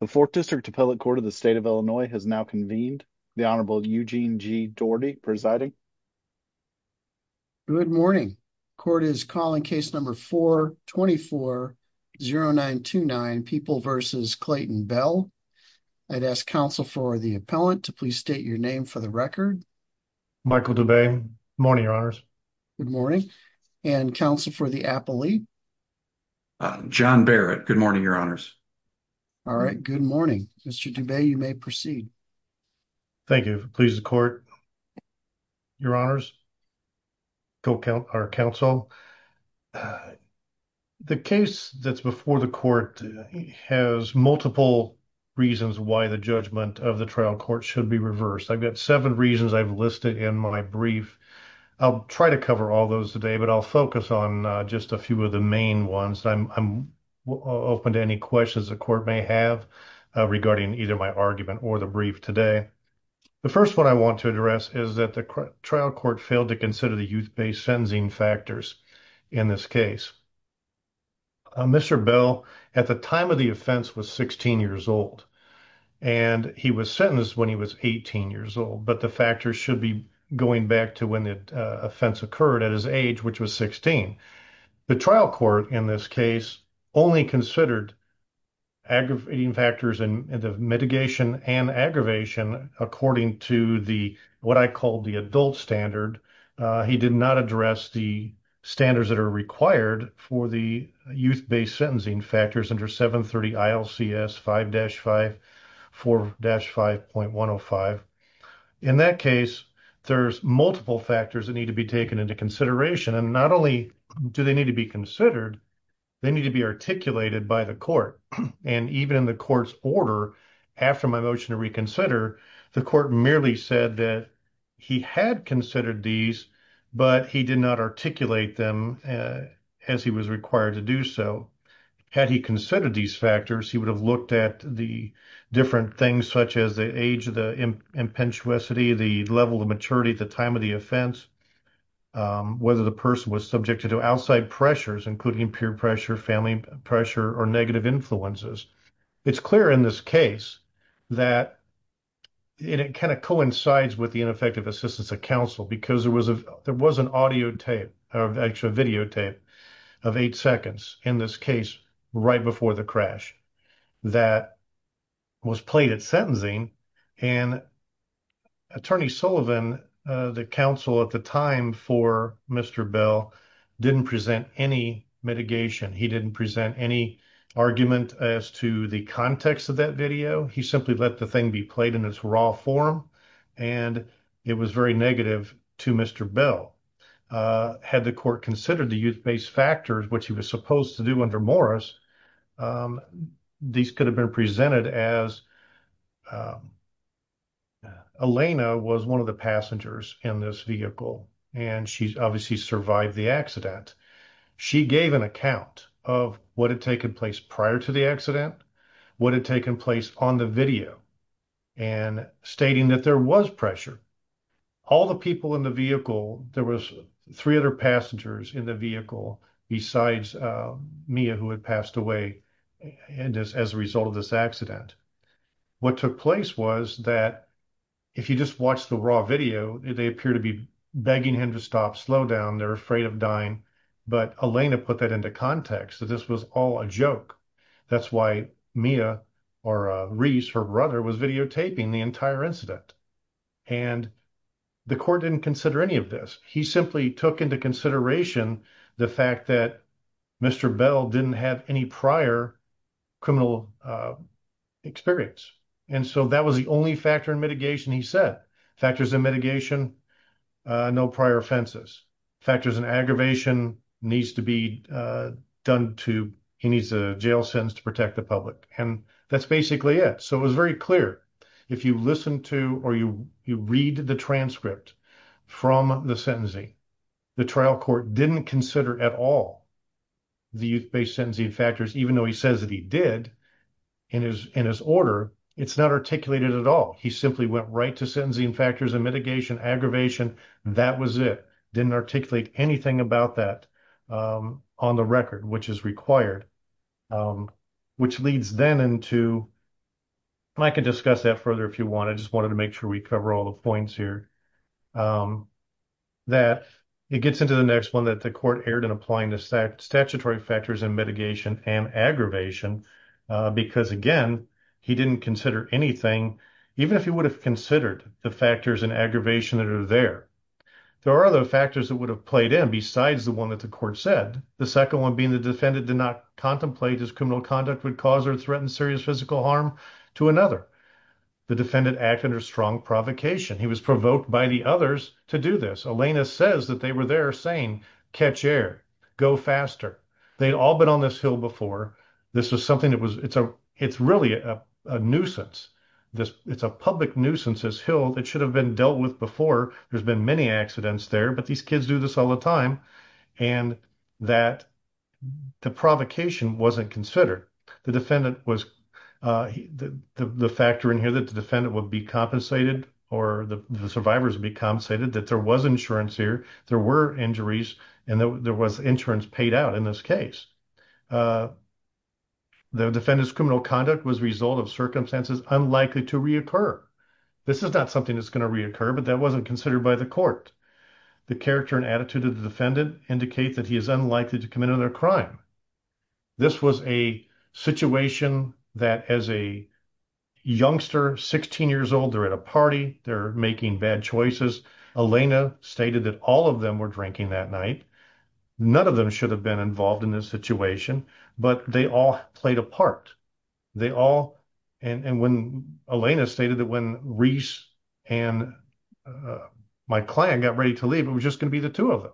the fourth district appellate court of the state of illinois has now convened the honorable eugene g doherty presiding good morning court is calling case number 4 24 0 9 2 9 people versus clayton bell i'd ask counsel for the appellant to please state your name for the record michael dubay morning your honors good morning and counsel for the appellate john barrett good morning your honors all right good morning mr dubay you may proceed thank you if it pleases the court your honors go count our counsel the case that's before the court has multiple reasons why the judgment of the trial court should be reversed i've got seven reasons i've listed in my brief i'll try to cover all those today but i'll focus on just a few of the main ones i'm open to any questions the court may have regarding either my argument or the brief today the first one i want to address is that the trial court failed to consider the youth based sentencing factors in this case mr bell at the time of the offense was 16 years old and he was sentenced when he was 18 years old but the factors should be going back to when the offense occurred at his age which was 16 the trial court in this case only considered aggravating factors in the mitigation and aggravation according to the what i called the adult standard he did not address the standards that are required for the youth based sentencing factors under 730 ilcs 5-5 4-5.105 in that case there's multiple factors that need to be taken into consideration and not only do they need to be considered they need to be articulated by the court and even in the court's order after my motion to reconsider the court merely said that he had considered these but he did not articulate them as he was required to do so had he considered these factors he would have looked at the different things such as the age of the impetuosity the level of maturity at the time of the offense whether the person was subject to outside pressures including peer pressure family pressure or negative influences it's clear in this case that it kind of coincides with the ineffective assistance of counsel because there was a there was an audio tape or actually a videotape of eight seconds in this case right before the crash that was played at sentencing and attorney sullivan uh the counsel at the time for mr bell didn't present any mitigation he didn't present any argument as to the context of that video he simply let the thing be played in its raw form and it was very negative to mr bell had the court considered the youth-based factors which he was supposed to do under morris these could have been presented as um elena was one of the passengers in this vehicle and she's obviously survived the accident she gave an account of what had taken place prior to the accident what had taken place on the video and stating that there was pressure all the people in the vehicle there was three other passengers in the vehicle besides mia who had passed away and as a result of this accident what took place was that if you just watch the raw video they appear to be begging him to stop slow down they're afraid of dying but elena put that into context that this was all a joke that's why mia or reese her brother was videotaping the entire incident and the court didn't consider any of this he simply took into consideration the fact that mr bell didn't have any prior criminal experience and so that was the only factor in mitigation he said factors in mitigation no prior offenses factors and aggravation needs to be uh done to he needs a jail sentence to protect the public and that's basically it so it was very clear if you listen to or you you read the transcript from the sentencing the trial court didn't consider at all the youth-based sentencing factors even though he says that he did in his in his order it's not articulated at all he simply went right to sentencing factors and mitigation aggravation that was it didn't articulate anything about that um on the record which is required um which leads then into and i can discuss that further if you want i just wanted to make sure we cover all the points here um that it gets into the next one that the court erred in applying the statutory factors and mitigation and aggravation uh because again he didn't consider anything even if he would have considered the factors and aggravation that are there there are other factors that would have played in besides the one that the court said the second one being the defendant did not contemplate his criminal conduct would cause or threaten serious physical harm to another the defendant acted or strong provocation he was provoked by the others to do this elena says that they were there saying catch air go faster they'd all been on this hill before this was something that was it's a it's really a a nuisance this it's a public nuisance this hill that should have been dealt with before there's been many accidents there but these kids do this all the time and that the provocation wasn't considered the defendant was uh the the factor in here that the defendant would be compensated or the survivors would be compensated that there was insurance here there were injuries and there was insurance paid out in this case uh the defendant's criminal conduct was result of circumstances unlikely to reoccur this is not something that's going to reoccur but that wasn't considered by the court the character and attitude of the defendant indicate that he is unlikely to commit another crime this was a situation that as a youngster 16 years old they're at a party they're making bad choices elena stated that all of them were drinking that night none of them should have been involved in this situation but they all played a part they all and and when elena stated that when reese and my client got ready to leave it was just going to be the two of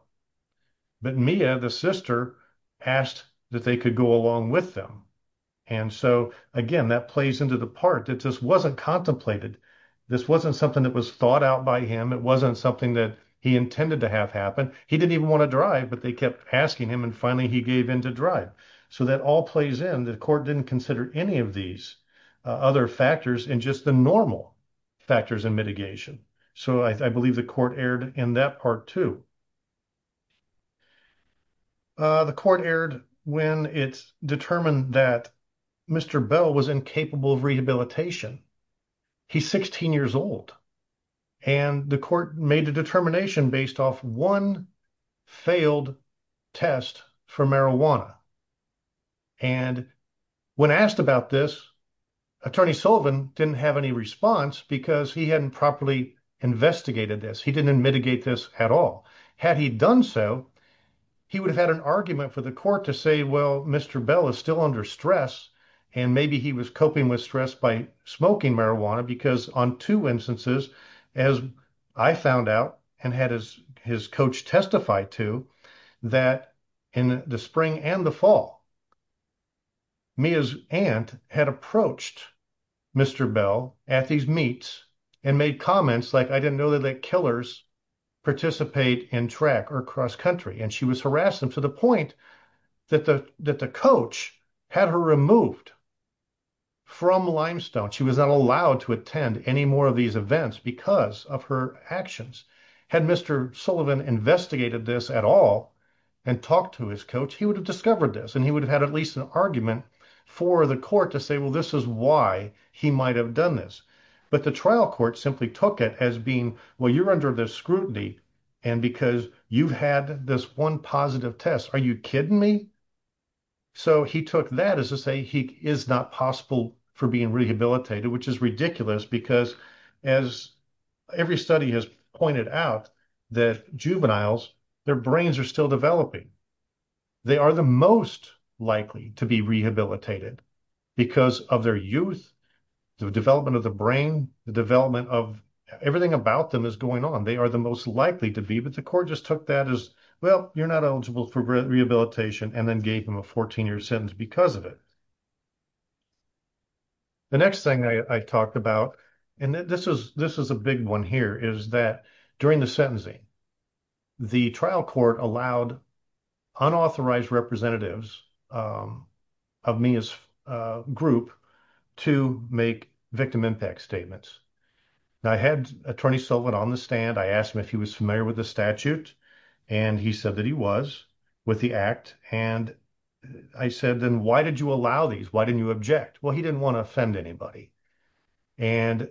but mia the sister asked that they could go along with them and so again that plays into the part that just wasn't contemplated this wasn't something that was thought out by him it wasn't something that he intended to have happen he didn't even want to drive but they kept asking him and finally he gave in to drive so that all plays in the court didn't consider any of these other factors and just the normal factors in mitigation so i believe the court aired in that part too the court aired when it's determined that mr bell was incapable of rehabilitation he's 16 years old and the court made a determination based off one failed test for marijuana and when asked about this attorney sullivan didn't have any response because he hadn't properly investigated this he didn't mitigate this at all had he done so he would have had an argument for the court to say well mr bell is still under stress and maybe he was coping with stress by smoking marijuana because on two instances as i found out and had his his coach testify to that in the spring and the fall mia's aunt had approached mr bell at these meets and made comments like i didn't know that killers participate in track or cross country and she was harassed them to the point that the that the coach had her removed from limestone she was not allowed to attend any more of these events because of her actions had mr sullivan investigated this at all and talked to his coach he would have discovered this and he would have had at least an argument for the court to say well this is why he might have done this but the trial court simply took it as being well you're under the scrutiny and because you've had this one positive test are you kidding me so he took that as to say he is not possible for being rehabilitated which is because as every study has pointed out that juveniles their brains are still developing they are the most likely to be rehabilitated because of their youth the development of the brain the development of everything about them is going on they are the most likely to be but the court just took that as well you're not eligible for rehabilitation and then gave him a 14-year sentence because of it the next thing i i talked about and this is this is a big one here is that during the sentencing the trial court allowed unauthorized representatives of me as a group to make victim impact statements i had attorney sullivan on the stand i asked him was familiar with the statute and he said that he was with the act and i said then why did you allow these why didn't you object well he didn't want to offend anybody and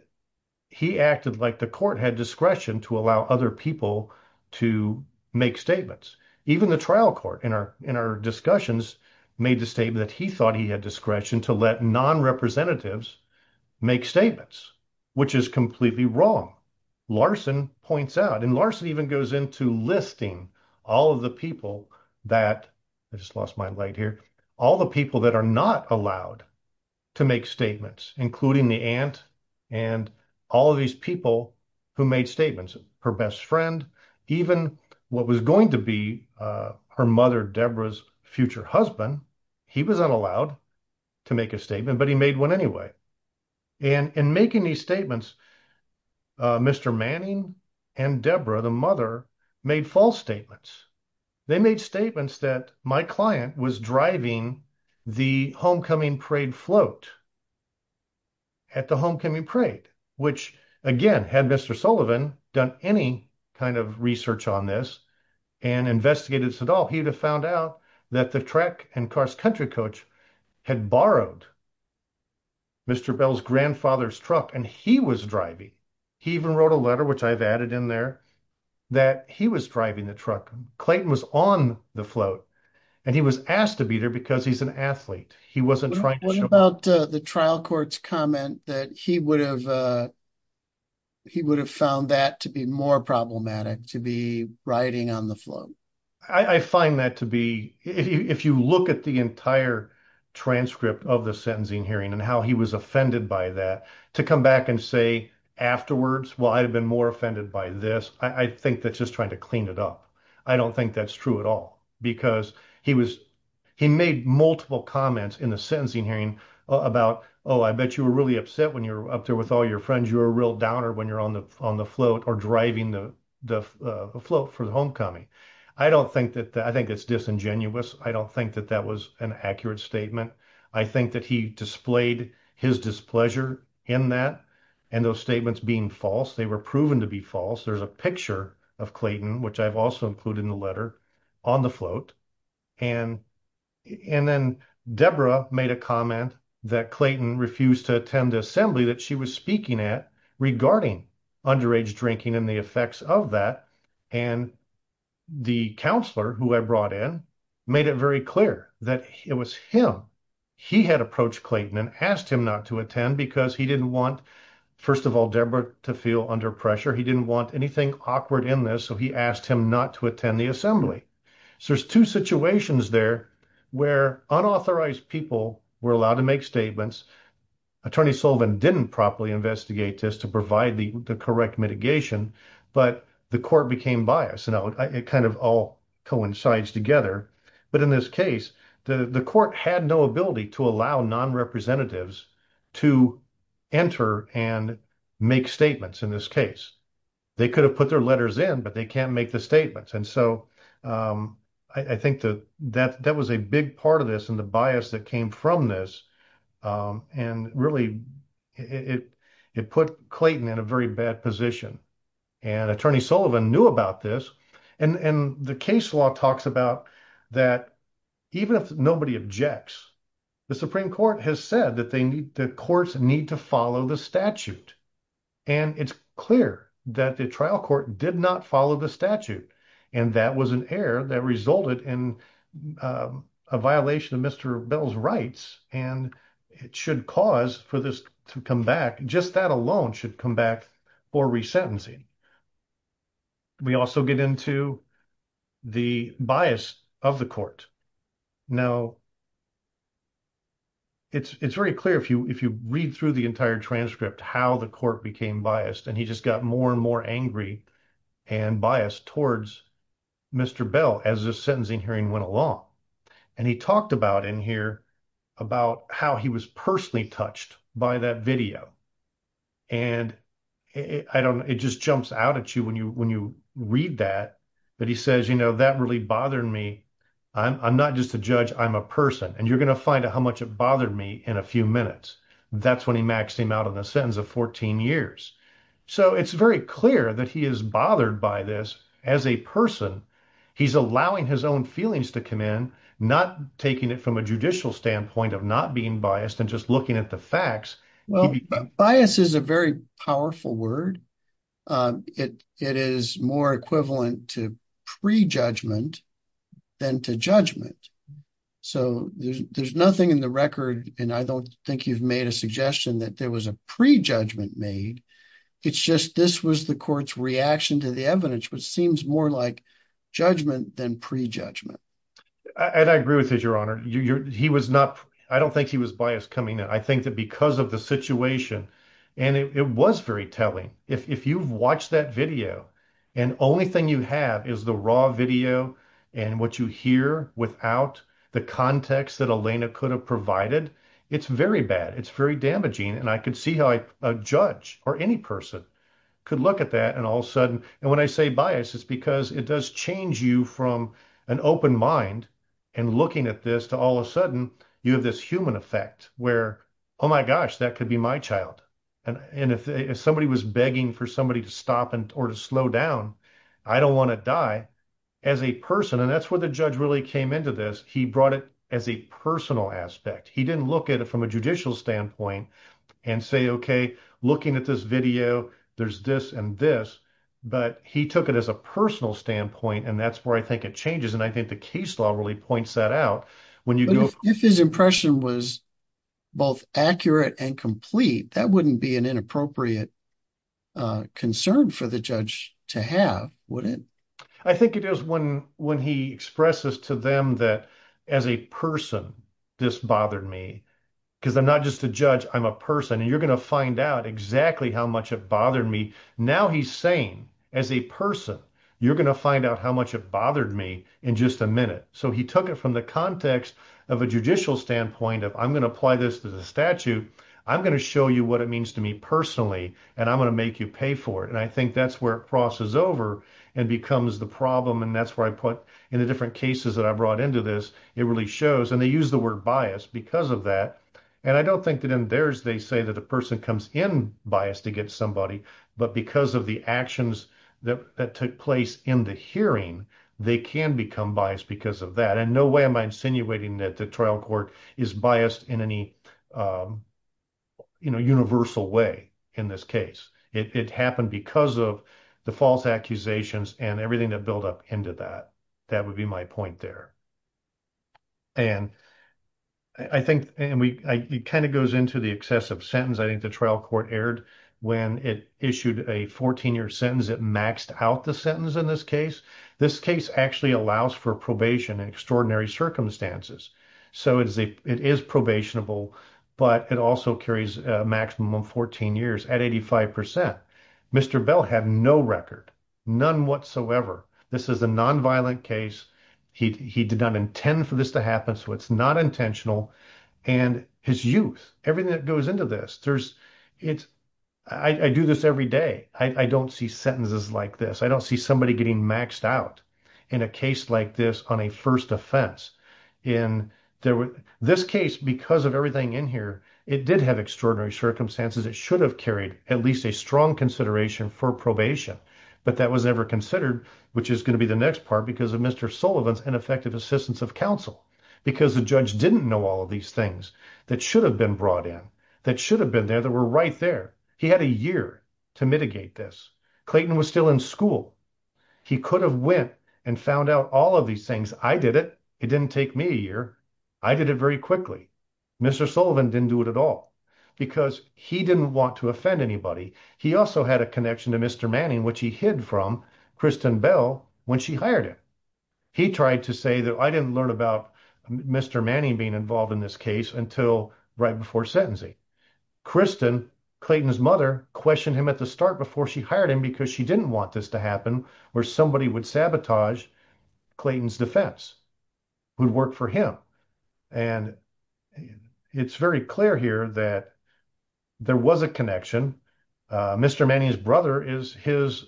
he acted like the court had discretion to allow other people to make statements even the trial court in our in our discussions made the statement that he thought he had discretion to let non-representatives make statements which is completely wrong larson points out and larson even goes into listing all of the people that i just lost my light here all the people that are not allowed to make statements including the aunt and all of these people who made statements her best friend even what was going to be uh her mother deborah's future husband he was unallowed to make a statement but he made one anyway and in making these statements uh mr manning and deborah the mother made false statements they made statements that my client was driving the homecoming parade float at the homecoming parade which again had mr sullivan done any kind of research on this and investigated this at all he would have found out that the track and cars country coach had borrowed mr bell's grandfather's truck and he was driving he even wrote a letter which i've added in there that he was driving the truck clayton was on the float and he was asked to beat her because he's an athlete he wasn't trying to show about the trial court's comment that he would have uh he would have found that to be more problematic to be riding on the float i i find that to be if you look at the entire transcript of the sentencing hearing and how he was offended by that to come back and say afterwards well i'd have been more offended by this i think that's just trying to clean it up i don't think that's true at all because he was he made multiple comments in the sentencing hearing about oh i bet you were really upset when you're up there with all your friends you're a real downer when you're on the on the float or driving the the float for the homecoming i don't think that i think it's disingenuous i don't think that that was an accurate statement i think that he displayed his displeasure in that and those statements being false they were proven to be false there's a picture of clayton which i've also included in the letter on the float and and then deborah made a comment that clayton refused to attend the that she was speaking at regarding underage drinking and the effects of that and the counselor who i brought in made it very clear that it was him he had approached clayton and asked him not to attend because he didn't want first of all deborah to feel under pressure he didn't want anything awkward in this so he asked him not to attend the assembly so there's two properly investigate this to provide the the correct mitigation but the court became biased you know it kind of all coincides together but in this case the the court had no ability to allow non-representatives to enter and make statements in this case they could have put their letters in but they can't make the statements and so um i think that that that was a big part of this and from this um and really it it put clayton in a very bad position and attorney sullivan knew about this and and the case law talks about that even if nobody objects the supreme court has said that they need the courts need to follow the statute and it's clear that the trial court did not follow the statute and that was an error that resulted in a violation of mr bell's rights and it should cause for this to come back just that alone should come back for resentencing we also get into the bias of the court now it's it's very clear if you if you read through the entire transcript how the court became biased and he just got more and more angry and biased towards mr bell as the sentencing hearing went along and he talked about in here about how he was personally touched by that video and i don't it just jumps out at you when you when you read that but he says you know that really bothered me i'm not just a judge i'm a person and you're going to find out how much it bothered me in a few minutes that's when he maxed him out in a sentence of 14 years so it's very clear that he is bothered by this as a person he's allowing his own feelings to come in not taking it from a judicial standpoint of not being biased and just looking at the facts well bias is a very powerful word it it is more equivalent to pre-judgment than to judgment so there's there's nothing in the record and i don't think you've made a suggestion that there was a pre-judgment made it's just this was the court's reaction to the evidence which seems more like judgment than pre-judgment and i agree with his your honor you're he was not i don't think he was biased coming in i think that because of the situation and it was very telling if you've watched that video and only thing you have is the raw video and what you hear without the context that elena could have provided it's very bad it's very damaging and i could see how a judge or any person could look at that and all of a sudden and when i say bias it's because it does change you from an open mind and looking at this to all of a sudden you have this human effect where oh my gosh that could be my child and and if somebody was begging for somebody to stop and or to slow down i don't want to die as a person and that's where the judge really came into this he brought it as a personal aspect he didn't look at it from a judicial standpoint and say okay looking at this video there's this and this but he took it as a personal standpoint and that's where i think it changes and i think the case law really points that out when you go if his impression was both accurate and complete that wouldn't be an inappropriate uh concern for the judge to have would it i think it is when when he expresses to them that as a person this bothered me because i'm not just a judge i'm a person and you're going to find out exactly how much it bothered me now he's saying as a person you're going to find out how much it bothered me in just a minute so he took it from the context of a judicial standpoint of i'm going to apply this to the statute i'm going to show you what it means to me personally and i'm going to make you pay for it and i think that's where it crosses over and becomes the problem and that's where i put in the different cases that i brought into this it really shows and they use the word bias because of that and i don't think that in theirs they say that the person comes in biased to get somebody but because of the actions that that took place in the hearing they can become biased because of that and no way am i insinuating that the trial court is biased in any um you know universal way in this case it happened because of the false accusations and everything that built up into that that would be my point there and i think and we it kind of goes into the excessive sentence i think the trial court aired when it issued a 14-year sentence it maxed out the sentence in this case this case actually allows for probation in extraordinary circumstances so it is a it is at 85 percent mr bell had no record none whatsoever this is a non-violent case he did not intend for this to happen so it's not intentional and his youth everything that goes into this there's it's i i do this every day i i don't see sentences like this i don't see somebody getting maxed out in a case like this on a first offense in there were this case because of everything in here it did have extraordinary circumstances it should have carried at least a strong consideration for probation but that was never considered which is going to be the next part because of mr sullivan's ineffective assistance of counsel because the judge didn't know all of these things that should have been brought in that should have been there that were right there he had a year to mitigate this clayton was still in school he could have went and found out all of these things i did it it didn't take me a year i did it very quickly mr sullivan didn't do it at all because he didn't want to offend anybody he also had a connection to mr manning which he hid from kristin bell when she hired him he tried to say that i didn't learn about mr manning being involved in this case until right before sentencing kristin clayton's mother questioned him at the start before she hired him because she didn't want this to happen where somebody would sabotage clayton's defense would work for him and it's very clear here that there was a connection uh mr manning's brother is his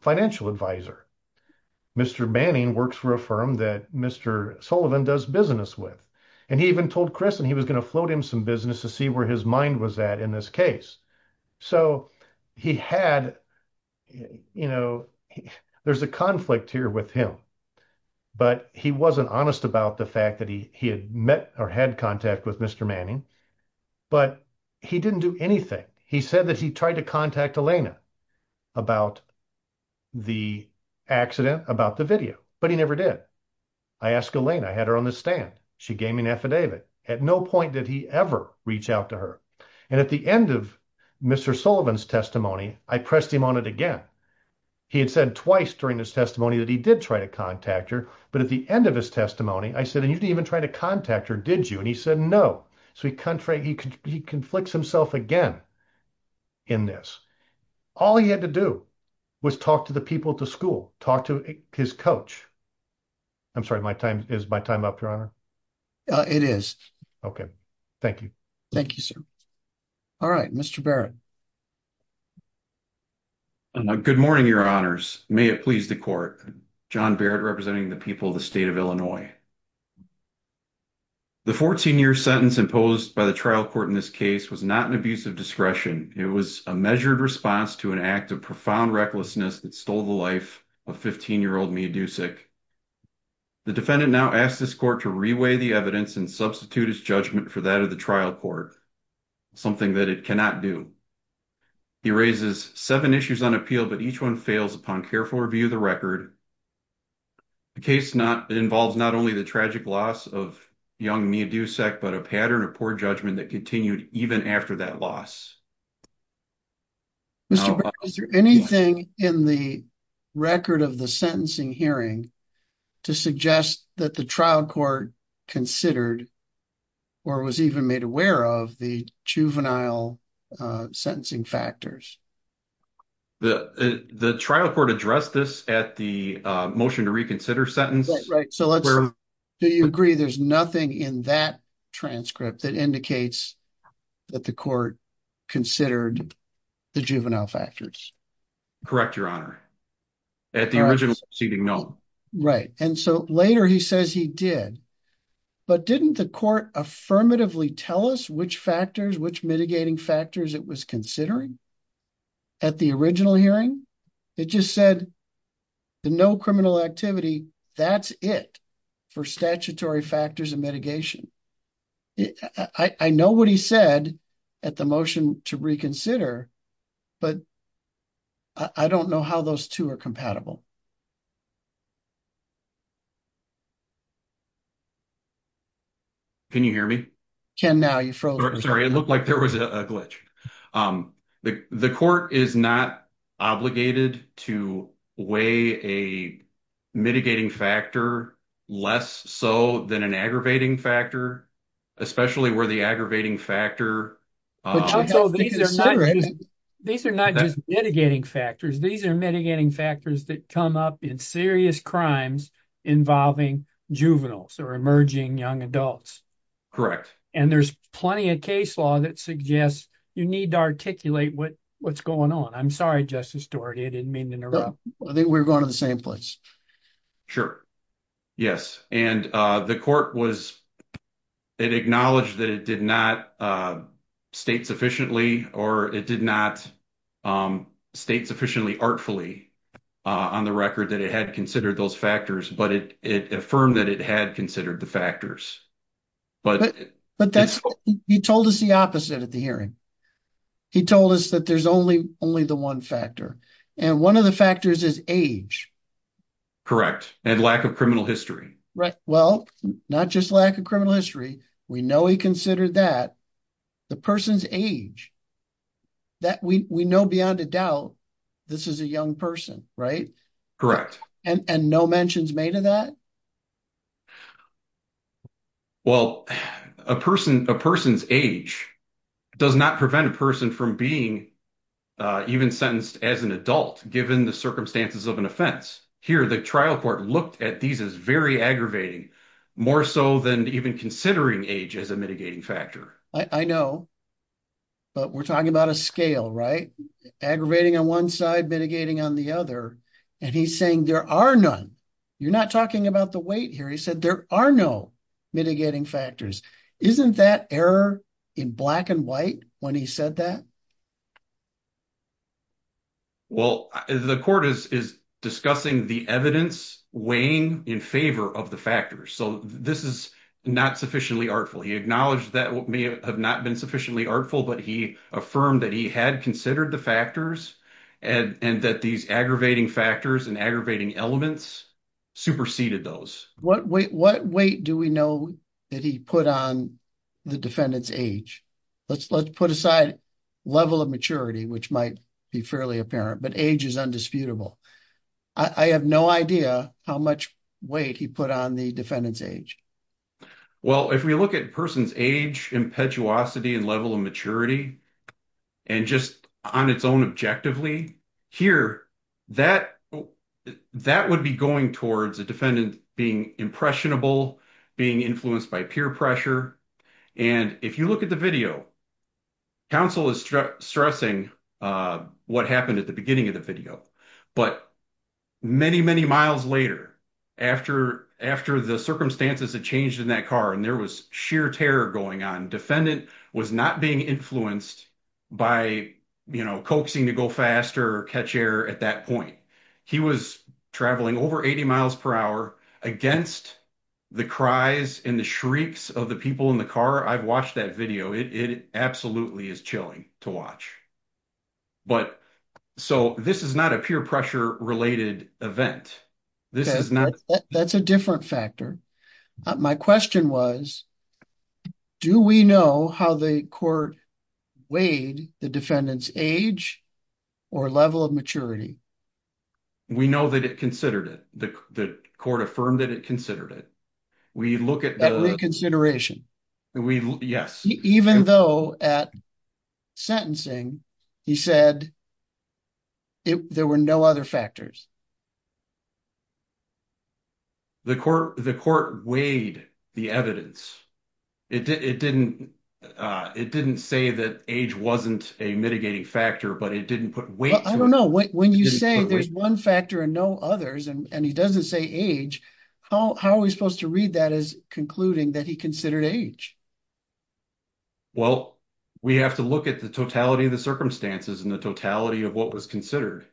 financial advisor mr manning works for a firm that mr sullivan does business with and he even told chris and he was going to float him some to see where his mind was at in this case so he had you know there's a conflict here with him but he wasn't honest about the fact that he he had met or had contact with mr manning but he didn't do anything he said that he tried to contact elena about the accident about the video but he never did i asked elena i had her on the stand she gave me an affidavit at no point did ever reach out to her and at the end of mr sullivan's testimony i pressed him on it again he had said twice during this testimony that he did try to contact her but at the end of his testimony i said and you didn't even try to contact her did you and he said no so he contrary he conflicts himself again in this all he had to do was talk to the people to school talk to his coach i'm sorry my time is my time up your honor uh it is okay thank you thank you sir all right mr barrett good morning your honors may it please the court john barrett representing the people of the state of illinois the 14 year sentence imposed by the trial court in this case was not an abuse of discretion it was a measured response to an act of profound recklessness that stole the life of 15 year old meaducic the defendant now asked this court to reweigh the evidence and substitute his judgment for that of the trial court something that it cannot do he raises seven issues on appeal but each one fails upon careful review of the record the case not involves not only the tragic loss of young meaducic but a pattern of poor judgment that continued even after that loss mr barrett is there anything in the record of the sentencing hearing to suggest that the trial court considered or was even made aware of the juvenile sentencing factors the the trial court addressed this at the motion to reconsider sentence right so let's do you agree there's nothing in that transcript that indicates that the court considered the juvenile factors correct your honor at the original proceeding note right and so later he says he did but didn't the court affirmatively tell us which factors which mitigating factors it was considering at the original hearing it just said the no criminal activity that's it for statutory i don't know how those two are compatible can you hear me can now you froze sorry it looked like there was a glitch um the the court is not obligated to weigh a mitigating factor less so than an aggravating factor especially where the factor these are not just mitigating factors these are mitigating factors that come up in serious crimes involving juveniles or emerging young adults correct and there's plenty of case law that suggests you need to articulate what what's going on i'm sorry justice doherty i didn't mean to interrupt i think we're going to the same place sure yes and uh the court was it acknowledged that it did not uh state sufficiently or it did not um state sufficiently artfully uh on the record that it had considered those factors but it it affirmed that it had considered the factors but but that's he told us the opposite at the hearing he told us that there's only only the one factor and one of the factors is age correct and lack of criminal history right well not just lack of criminal history we know he considered that the person's age that we we know beyond a doubt this is a young person right correct and and no mentions made of that well a person a person's age does not prevent a person from being uh even sentenced as an adult given the circumstances of an offense here the trial court looked at these as very aggravating more so than even considering age as a mitigating factor i know but we're talking about a scale right aggravating on one side mitigating on the other and he's saying there are none you're not talking about the weight here he said there are no mitigating factors isn't that error in black and white when he said that well the court is discussing the evidence weighing in favor of the factors so this is not sufficiently artful he acknowledged that may have not been sufficiently artful but he affirmed that he had considered the factors and and that these aggravating factors and aggravating elements superseded those what weight what weight do we know that he put on the defendant's age let's let's put aside level of maturity which might be fairly apparent but age is undisputable i have no idea how much weight he put on the defendant's age well if we look at a person's age impetuosity and level of maturity and just on its own objectively here that that would be going towards a defendant being impressionable being influenced by peer pressure and if you look at the video counsel is stressing uh what happened at the beginning of the video but many many miles later after after the circumstances had changed in that car and there was sheer terror going on defendant was not being influenced by you know coaxing to go faster catch air at that point he was traveling over 80 miles per hour against the cries and the shrieks of the people in the car i've watched that video it absolutely is chilling to watch but so this is not a peer pressure related event this is not that's a different factor my question was do we know how the court weighed the defendant's age or level of maturity we know that it considered it the court affirmed that it considered it we look at the consideration we yes even though at sentencing he said there were no other factors the court the court weighed the evidence it didn't uh it didn't say that age wasn't a mitigating factor but it didn't put weight i don't know when you say there's one factor and no others and he doesn't say age how how are we supposed to read that as concluding that he considered age well we have to look at the totality of the circumstances and the totality of what was considered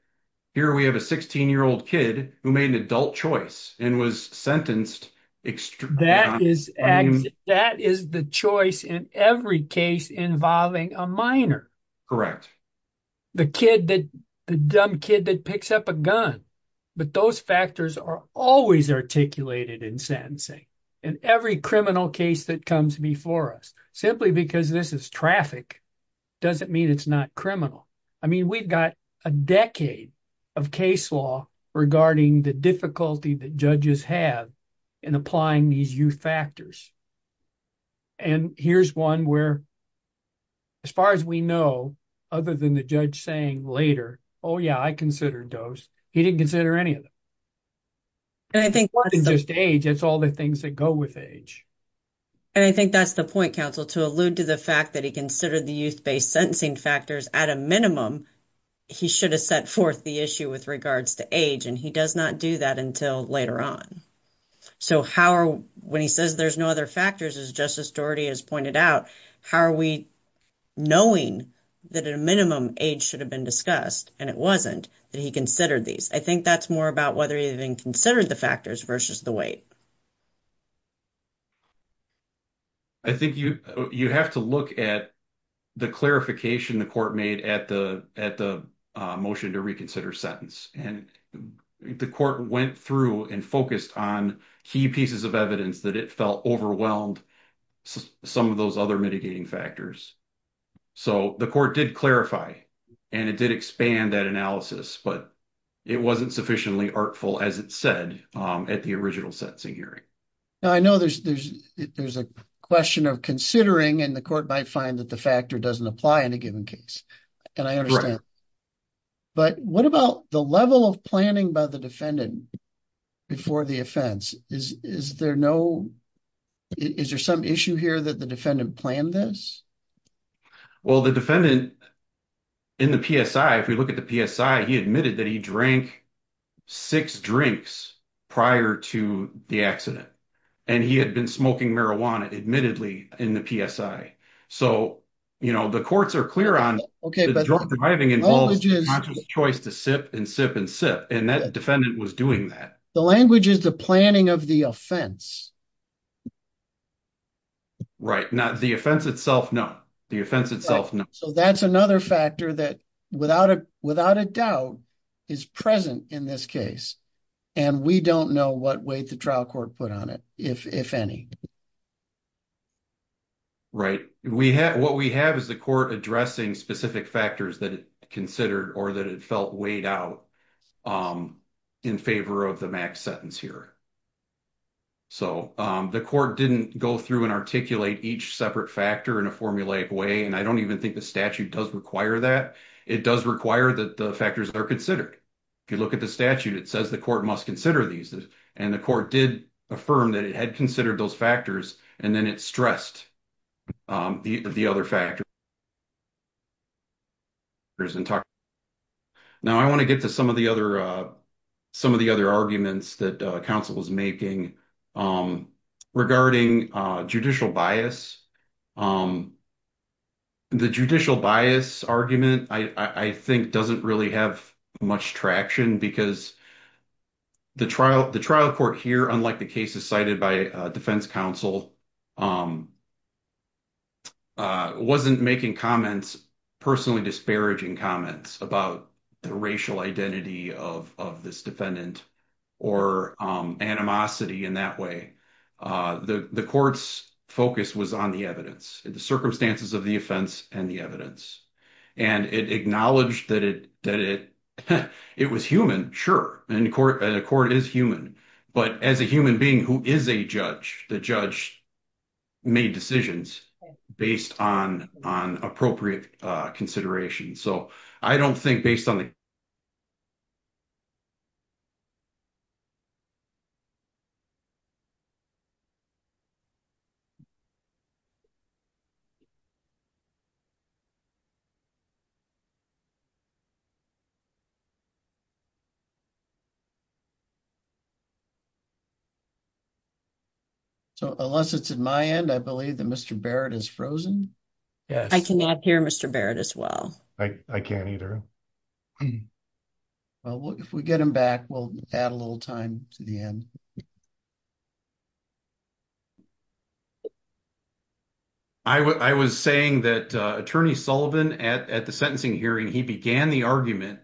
here we have a 16 year old kid who made an adult choice and was sentenced that is that is the choice in every case involving a minor correct the kid that dumb kid that picks up a gun but those factors are always articulated in sentencing in every criminal case that comes before us simply because this is traffic doesn't mean it's not criminal i mean we've got a decade of case law regarding the difficulty that judges have in applying these youth factors and here's one where as far as we know other than the judge saying later oh yeah i considered those he didn't consider any of them and i think just age it's all the things that go with age and i think that's the point counsel to allude to the fact that he considered the youth based sentencing factors at a minimum he should have set forth the issue with regards to age and he does not do that until later on so how are when he says there's no other factors as justice doherty has pointed out how are we knowing that at a minimum age should have been discussed and it wasn't that he considered these i think that's more about whether he even considered the factors versus the weight i think you you have to look at the clarification the court made at the at the motion to reconsider sentence and the court went through and focused on key pieces of evidence that it felt overwhelmed some of those other mitigating factors so the court did clarify and it did expand that analysis but it wasn't sufficiently artful as it said at the original sentencing hearing now i know there's there's there's a question of considering and the court might find that the factor doesn't apply in a given case and i understand but what about the level of planning by the defendant before the offense is is there no is there some issue here that the defendant planned this well the defendant in the psi if we look at the psi he admitted that he drank six drinks prior to the accident and he had been smoking marijuana admittedly in the psi so you know the courts are clear on okay but driving involves conscious to sip and sip and sip and that defendant was doing that the language is the planning of the offense right now the offense itself no the offense itself so that's another factor that without a without a doubt is present in this case and we don't know what weight the trial court put on it if if any right we have what we have is the court addressing specific factors that it considered or that it felt weighed out in favor of the max sentence here so the court didn't go through and articulate each separate factor in a formulaic way and i don't even think the statute does require that it does require that the factors are considered if you look at the statute it says the court must consider these and the court did affirm that it had those factors and then it stressed the the other factors now i want to get to some of the other some of the other arguments that council is making regarding judicial bias the judicial bias argument i i think doesn't really have much traction because the trial the trial court here unlike the cases cited by defense council wasn't making comments personally disparaging comments about the racial identity of of this defendant or animosity in that way the the court's focus was on the evidence the circumstances of the it was human sure and the court and the court is human but as a human being who is a judge the judge made decisions based on on appropriate uh considerations so i don't think based on the so unless it's in my end i believe that mr barrett is frozen yes i cannot hear mr barrett as well i i can't either well if we get him back we'll add a little time to the end i i was saying that uh attorney sullivan at at the sentencing hearing he began the argument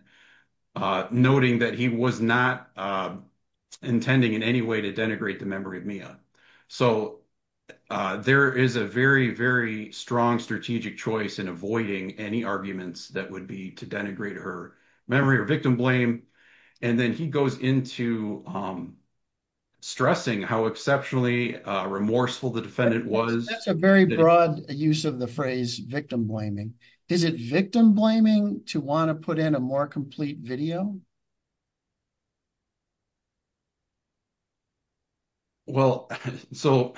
uh noting that he was not uh intending in any way to denigrate the memory of mia so uh there is a very very strong strategic choice in avoiding any arguments that would be to denigrate her memory or victim blame and then he goes into um stressing how exceptionally uh remorseful the defendant was that's a very broad use of the phrase victim blaming is it victim blaming to want to put in a more complete video well so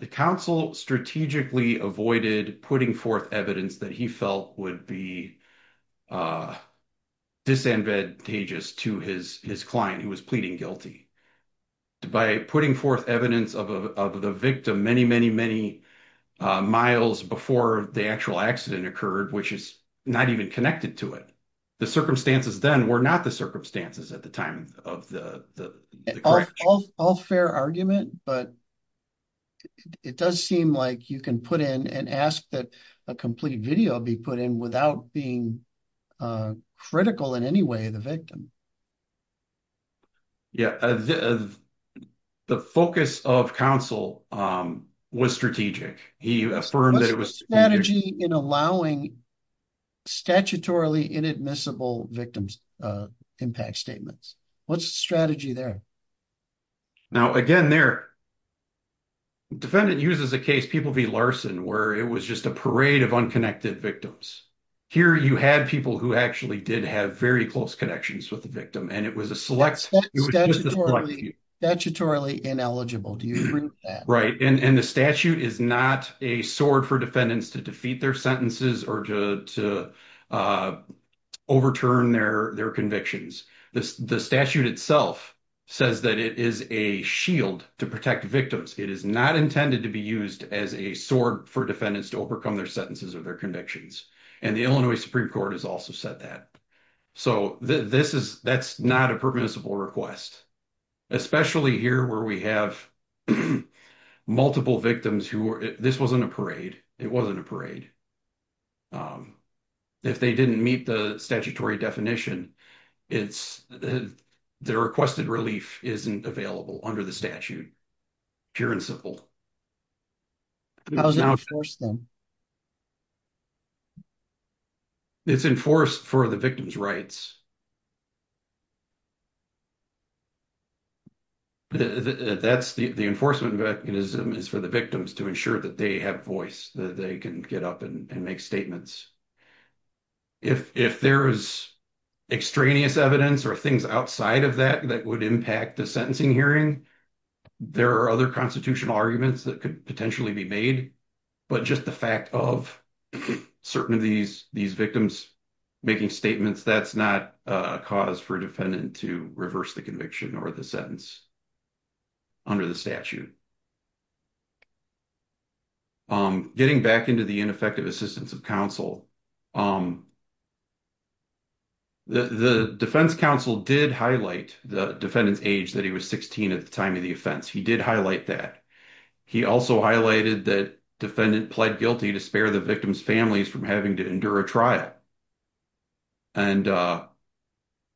the council strategically avoided putting forth evidence that he felt would be uh disadvantageous to his his client who was pleading guilty by putting forth evidence of of the victim many many many miles before the actual accident occurred which is not even connected to it the circumstances then were not the circumstances at the time of the the all all fair argument but it does seem like you can put in and ask that a complete video be put in without being uh critical in any way the victim yeah the focus of counsel um was strategic he affirmed that it was strategy in allowing statutorily inadmissible victims uh impact statements what's the strategy there now again there defendant uses a case people v larson where it was just a parade of unconnected victims here you had people who actually did have very close connections with the victim and it was a select statutorily ineligible do you agree with that right and and the statute is not a sword for defendants to defeat their sentences or to to uh overturn their their convictions this the statute itself says that it is a shield to protect victims it is not intended to be used as a sword for defendants to overcome their sentences or their convictions and the illinois supreme court has also said that so this is that's not a permissible request especially here where we have multiple victims who this wasn't a parade it wasn't a parade um if they didn't meet the statutory definition it's the requested relief isn't available under the statute pure and simple how does it enforce them it's enforced for the victim's rights that's the the enforcement mechanism is for the victims to ensure that they have voice that they can get up and make statements if if there is extraneous evidence or things outside of that that would impact the sentencing hearing there are other constitutional arguments that could potentially be made but just the fact of certain of these these victims making statements that's not a cause for a defendant to reverse the conviction or the sentence under the statute um getting back into the ineffective assistance of counsel um the the defense counsel did highlight the defendant's age that he was 16 at the time of the offense he did highlight that he also highlighted that defendant pled guilty to spare the victim's families from having to endure a trial and uh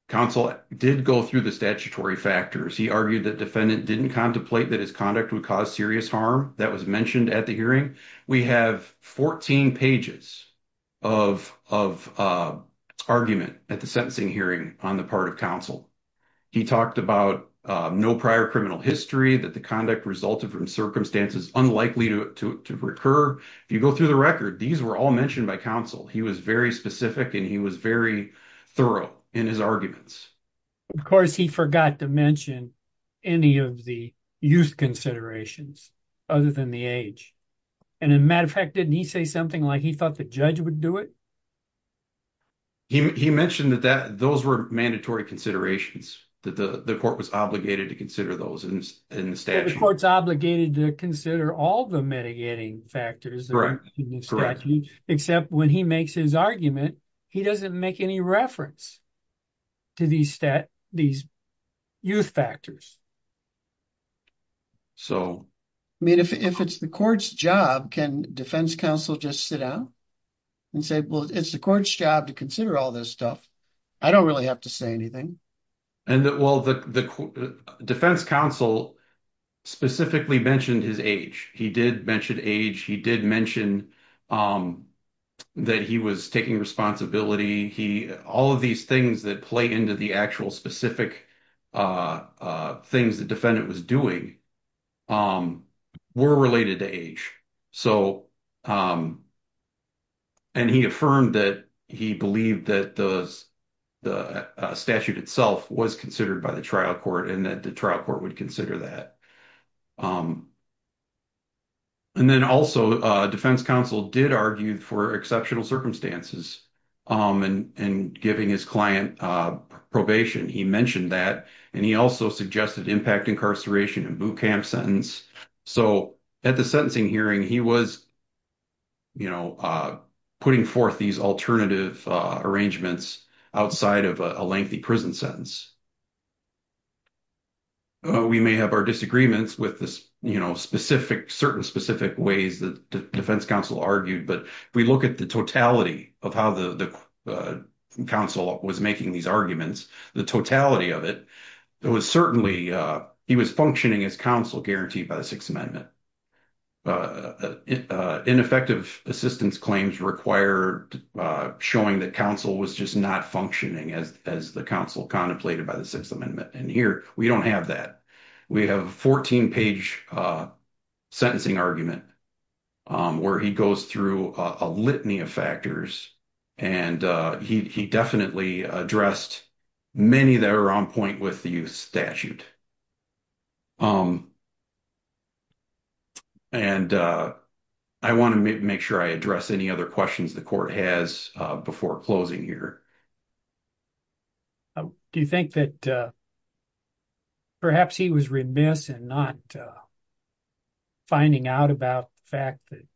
counsel did go through the statutory factors he argued that defendant didn't contemplate that his conduct would cause serious harm that was mentioned at the hearing we have 14 pages of of argument at the sentencing hearing on the part of counsel he talked about no prior criminal history that the conduct resulted from circumstances unlikely to to recur if you go through the record these were all mentioned by counsel he was very specific and he was very thorough in his arguments of course he forgot to any of the youth considerations other than the age and as a matter of fact didn't he say something like he thought the judge would do it he mentioned that that those were mandatory considerations that the the court was obligated to consider those in the statute the court's obligated to consider all the mitigating factors correct except when he makes his argument he doesn't make any reference to these stat these youth factors so i mean if it's the court's job can defense counsel just sit down and say well it's the court's job to consider all this stuff i don't really have to say anything and that well the the defense counsel specifically mentioned his age he did mention age he did mention um that he was taking responsibility he all of these things that play into the actual specific things the defendant was doing um were related to age so um and he affirmed that he believed that the statute itself was considered by the trial court and that the trial court would consider that um and then also uh defense counsel did argue for exceptional circumstances um and and giving his client uh probation he mentioned that and he also suggested impact incarceration and boot camp sentence so at the sentencing hearing he was you know uh putting forth these alternative arrangements outside of a lengthy prison sentence we may have our disagreements with this you know specific certain specific ways that defense counsel argued but if we look at the totality of how the the counsel was making these arguments the totality of it it was certainly uh he was functioning as guaranteed by the sixth amendment uh ineffective assistance claims required uh showing that counsel was just not functioning as as the counsel contemplated by the sixth amendment and here we don't have that we have a 14 page uh sentencing argument um where he goes through a litany of factors and uh he he definitely addressed many that are on point with the youth statute um and uh i want to make sure i address any other questions the court has uh before closing here do you think that uh perhaps he was remiss and not uh finding out about the fact that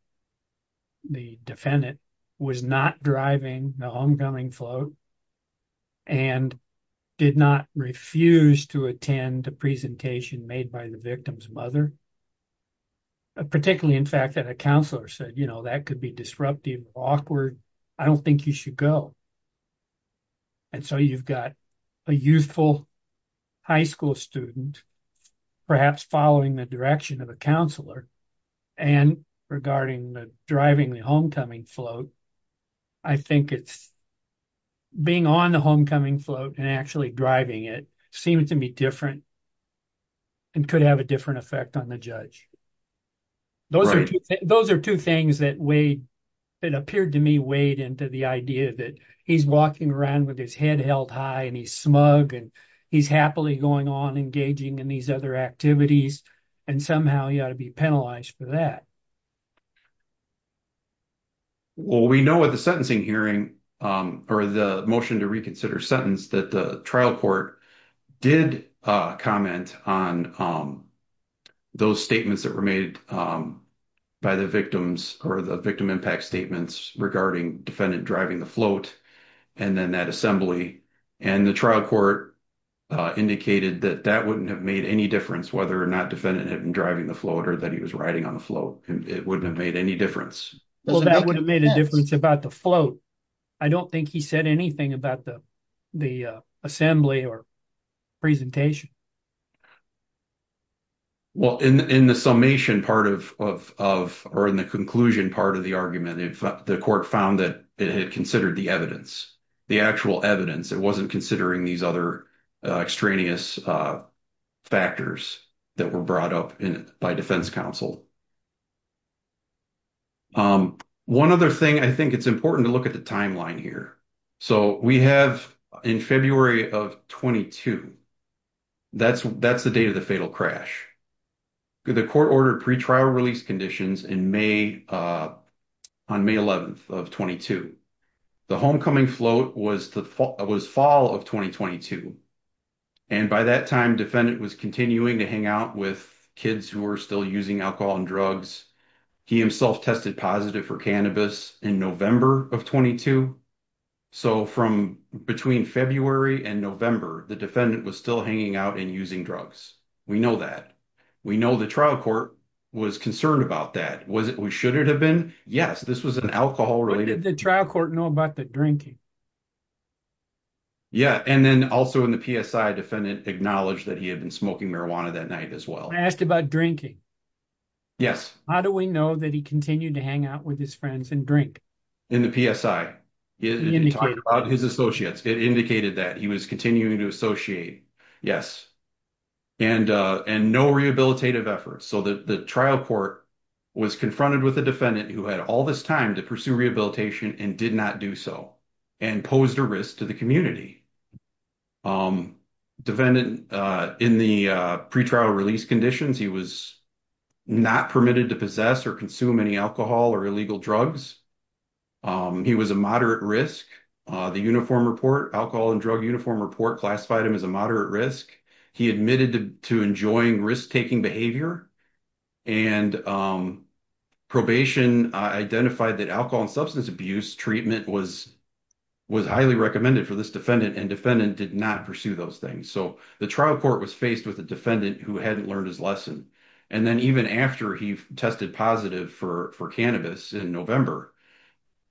the defendant was not driving the homecoming float and did not refuse to attend a presentation made by the victim's mother particularly in fact that a counselor said you know that could be disruptive awkward i don't think you should go and so you've got a youthful high school student perhaps following the direction of a counselor and regarding the driving the homecoming float i think it's being on the homecoming float and actually driving it seemed to be different and could have a different effect on the judge those are those are two things that way it appeared to me weighed into the idea that he's walking around with his head held high and he's smug and he's happily going on engaging in these other activities and somehow he ought to be penalized for that well we know what the sentencing hearing um or the motion to reconsider sentence that the trial court did uh comment on um those statements that were made um by the victims or the victim impact statements regarding defendant driving the float and then that assembly and the trial court indicated that that wouldn't have made any difference whether or not defendant had been driving the float or that he was riding on the float and it wouldn't have made any difference well that would have made a difference about the float i don't think he said anything about the the assembly or presentation well in in the summation part of of of or in the conclusion part of the argument if the court found that it had considered the evidence the actual evidence it wasn't considering these other extraneous factors that were brought up in by defense counsel um one other thing i think it's important to look at the timeline here so we have in february of 22 that's that's the date of the fatal crash the court ordered pre-trial release conditions in may uh on may 11th of 22 the homecoming float was the fall it was fall of 2022 and by that time defendant was continuing to hang out with kids who were still using alcohol and drugs he himself tested positive for cannabis in november of 22 so from between february and november the defendant was still hanging out and using drugs we know that we know the trial court was concerned about that was it we should it have been yes this was an alcohol related the trial court know about the drinking yeah and then also in the psi defendant acknowledged that he had been smoking marijuana that night as well i asked about drinking yes how do we know that he continued to hang out with his friends and drink in the psi he talked about his associates it indicated that he was continuing to associate yes and uh and no rehabilitative efforts so that the trial court was confronted with a defendant who had all this time to pursue rehabilitation and did not do so and posed a risk to the community um defendant uh in the uh pre-trial release conditions he was not permitted to possess or consume any alcohol or illegal drugs um he was a moderate risk uh the uniform report alcohol and drug uniform report classified him as a moderate risk he admitted to enjoying risk-taking behavior and um probation identified that alcohol and substance abuse treatment was was highly recommended for this defendant and defendant did not pursue those things so the trial court was faced with a defendant who hadn't learned his and then even after he tested positive for for cannabis in november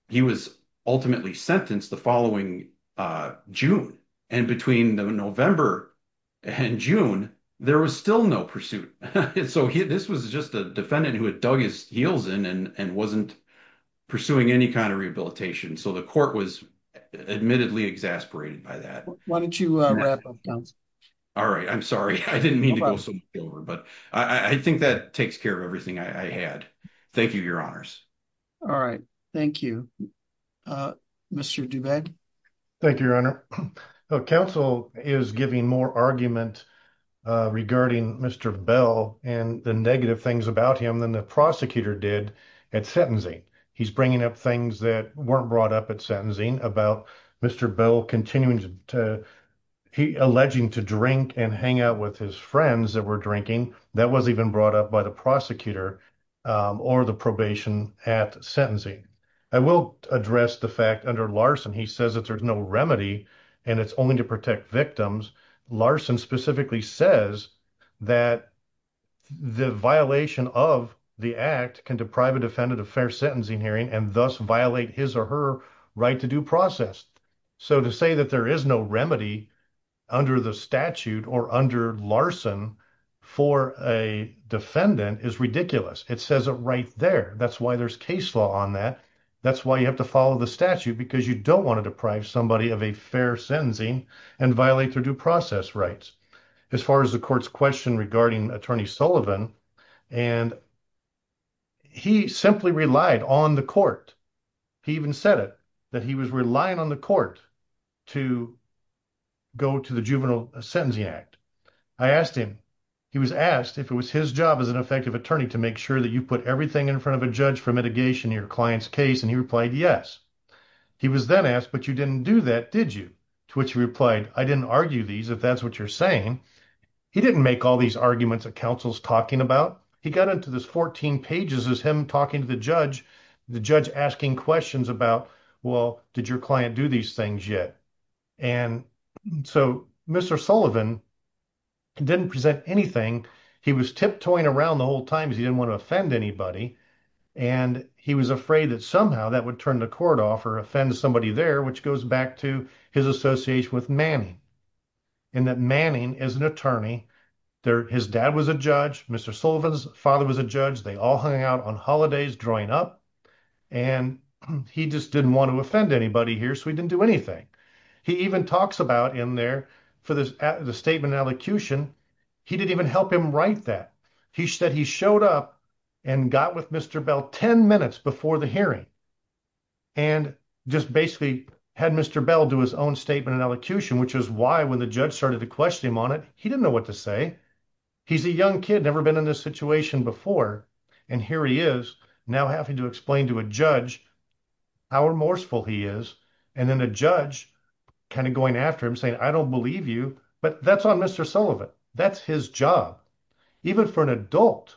he was ultimately sentenced the following uh june and between the november and june there was still no pursuit so this was just a defendant who had dug his heels in and and wasn't pursuing any kind of rehabilitation so the court was admittedly exasperated by that why don't you uh all right i'm sorry i didn't mean but i i think that takes care of everything i had thank you your honors all right thank you uh mr dubeck thank you your honor the council is giving more argument uh regarding mr bell and the negative things about him than the prosecutor did at sentencing he's bringing up things that weren't brought up at sentencing about mr bell continuing to he alleging to drink and hang out with his friends that were drinking that was even brought up by the prosecutor or the probation at sentencing i will address the fact under larson he says that there's no remedy and it's only to protect victims larson specifically says that the violation of the act can deprive a defendant of fair sentencing hearing and thus violate his or her right to do process so to say that there is no remedy under the statute or under larson for a defendant is ridiculous it says it right there that's why there's case law on that that's why you have to follow the statute because you don't want to deprive somebody of a fair sentencing and violate their due process rights as far as the court's question regarding attorney sullivan and he simply relied on the court he even said it that he was relying on the court to go to the juvenile sentencing act i asked him he was asked if it was his job as an effective attorney to make sure that you put everything in front of a judge for mitigation your client's case and he replied yes he was then asked but you didn't do that did you to which he replied i didn't argue these if that's what you're saying he didn't make all these arguments that counsel's talking about he got to this 14 pages as him talking to the judge the judge asking questions about well did your client do these things yet and so mr sullivan didn't present anything he was tiptoeing around the whole time he didn't want to offend anybody and he was afraid that somehow that would turn the court off or offend somebody there which goes back to his association with manning and that attorney there his dad was a judge mr sullivan's father was a judge they all hung out on holidays drawing up and he just didn't want to offend anybody here so he didn't do anything he even talks about in there for this the statement in elocution he didn't even help him write that he said he showed up and got with mr bell 10 minutes before the hearing and just basically had mr bell do his own statement in elocution which is why when the judge started to question him on it he didn't know what to say he's a young kid never been in this situation before and here he is now having to explain to a judge how remorseful he is and then a judge kind of going after him saying i don't believe you but that's on mr sullivan that's his job even for an adult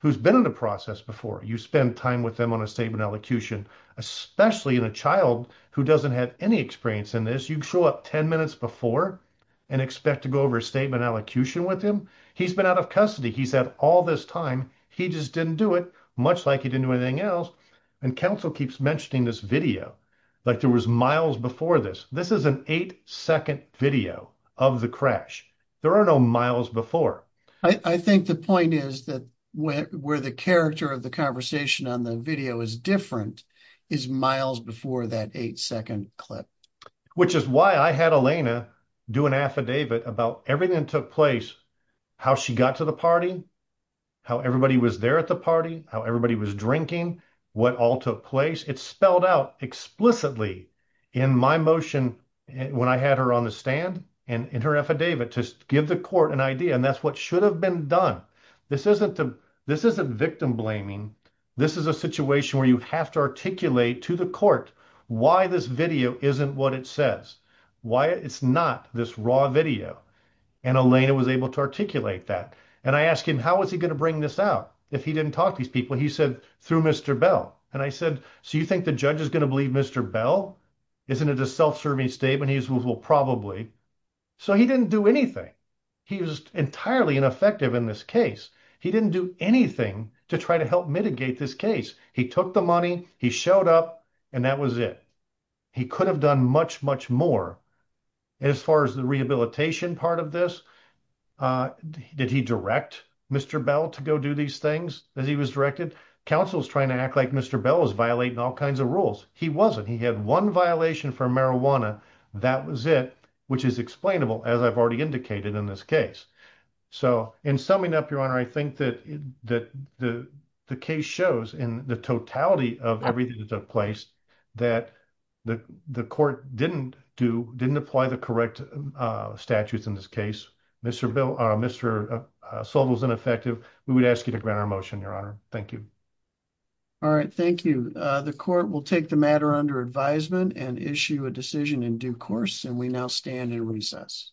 who's been in the process before you spend time with them on a statement elocution especially in a child who doesn't have any experience in this you show up 10 minutes before and expect to go over a statement elocution with him he's been out of custody he's had all this time he just didn't do it much like he didn't do anything else and counsel keeps mentioning this video like there was miles before this this is an eight second video of the crash there are no miles before i i think the point is that where the character of the conversation on video is different is miles before that eight second clip which is why i had elena do an affidavit about everything that took place how she got to the party how everybody was there at the party how everybody was drinking what all took place it's spelled out explicitly in my motion when i had her on the stand and in her affidavit to give the court an idea and that's what should have been done this isn't the this isn't victim blaming this is a situation where you have to articulate to the court why this video isn't what it says why it's not this raw video and elena was able to articulate that and i asked him how was he going to bring this out if he didn't talk to these people he said through mr bell and i said so you think the judge is going to believe mr bell isn't it a self-serving statement he's well probably so he didn't do anything he was entirely ineffective in this case he didn't do anything to try to help mitigate this case he took the money he showed up and that was it he could have done much much more as far as the rehabilitation part of this uh did he direct mr bell to go do these things as he was directed council's trying to act like mr bell is violating all kinds of rules he wasn't he had one violation for marijuana that was it which is explainable as i've already indicated in this case so in summing up your honor i think that that the the case shows in the totality of everything that took place that the the court didn't do didn't apply the correct uh statutes in this case mr bill uh mr sold was ineffective we would ask you to grant our motion your honor thank you all right thank you uh court will take the matter under advisement and issue a decision in due course and we now stand in recess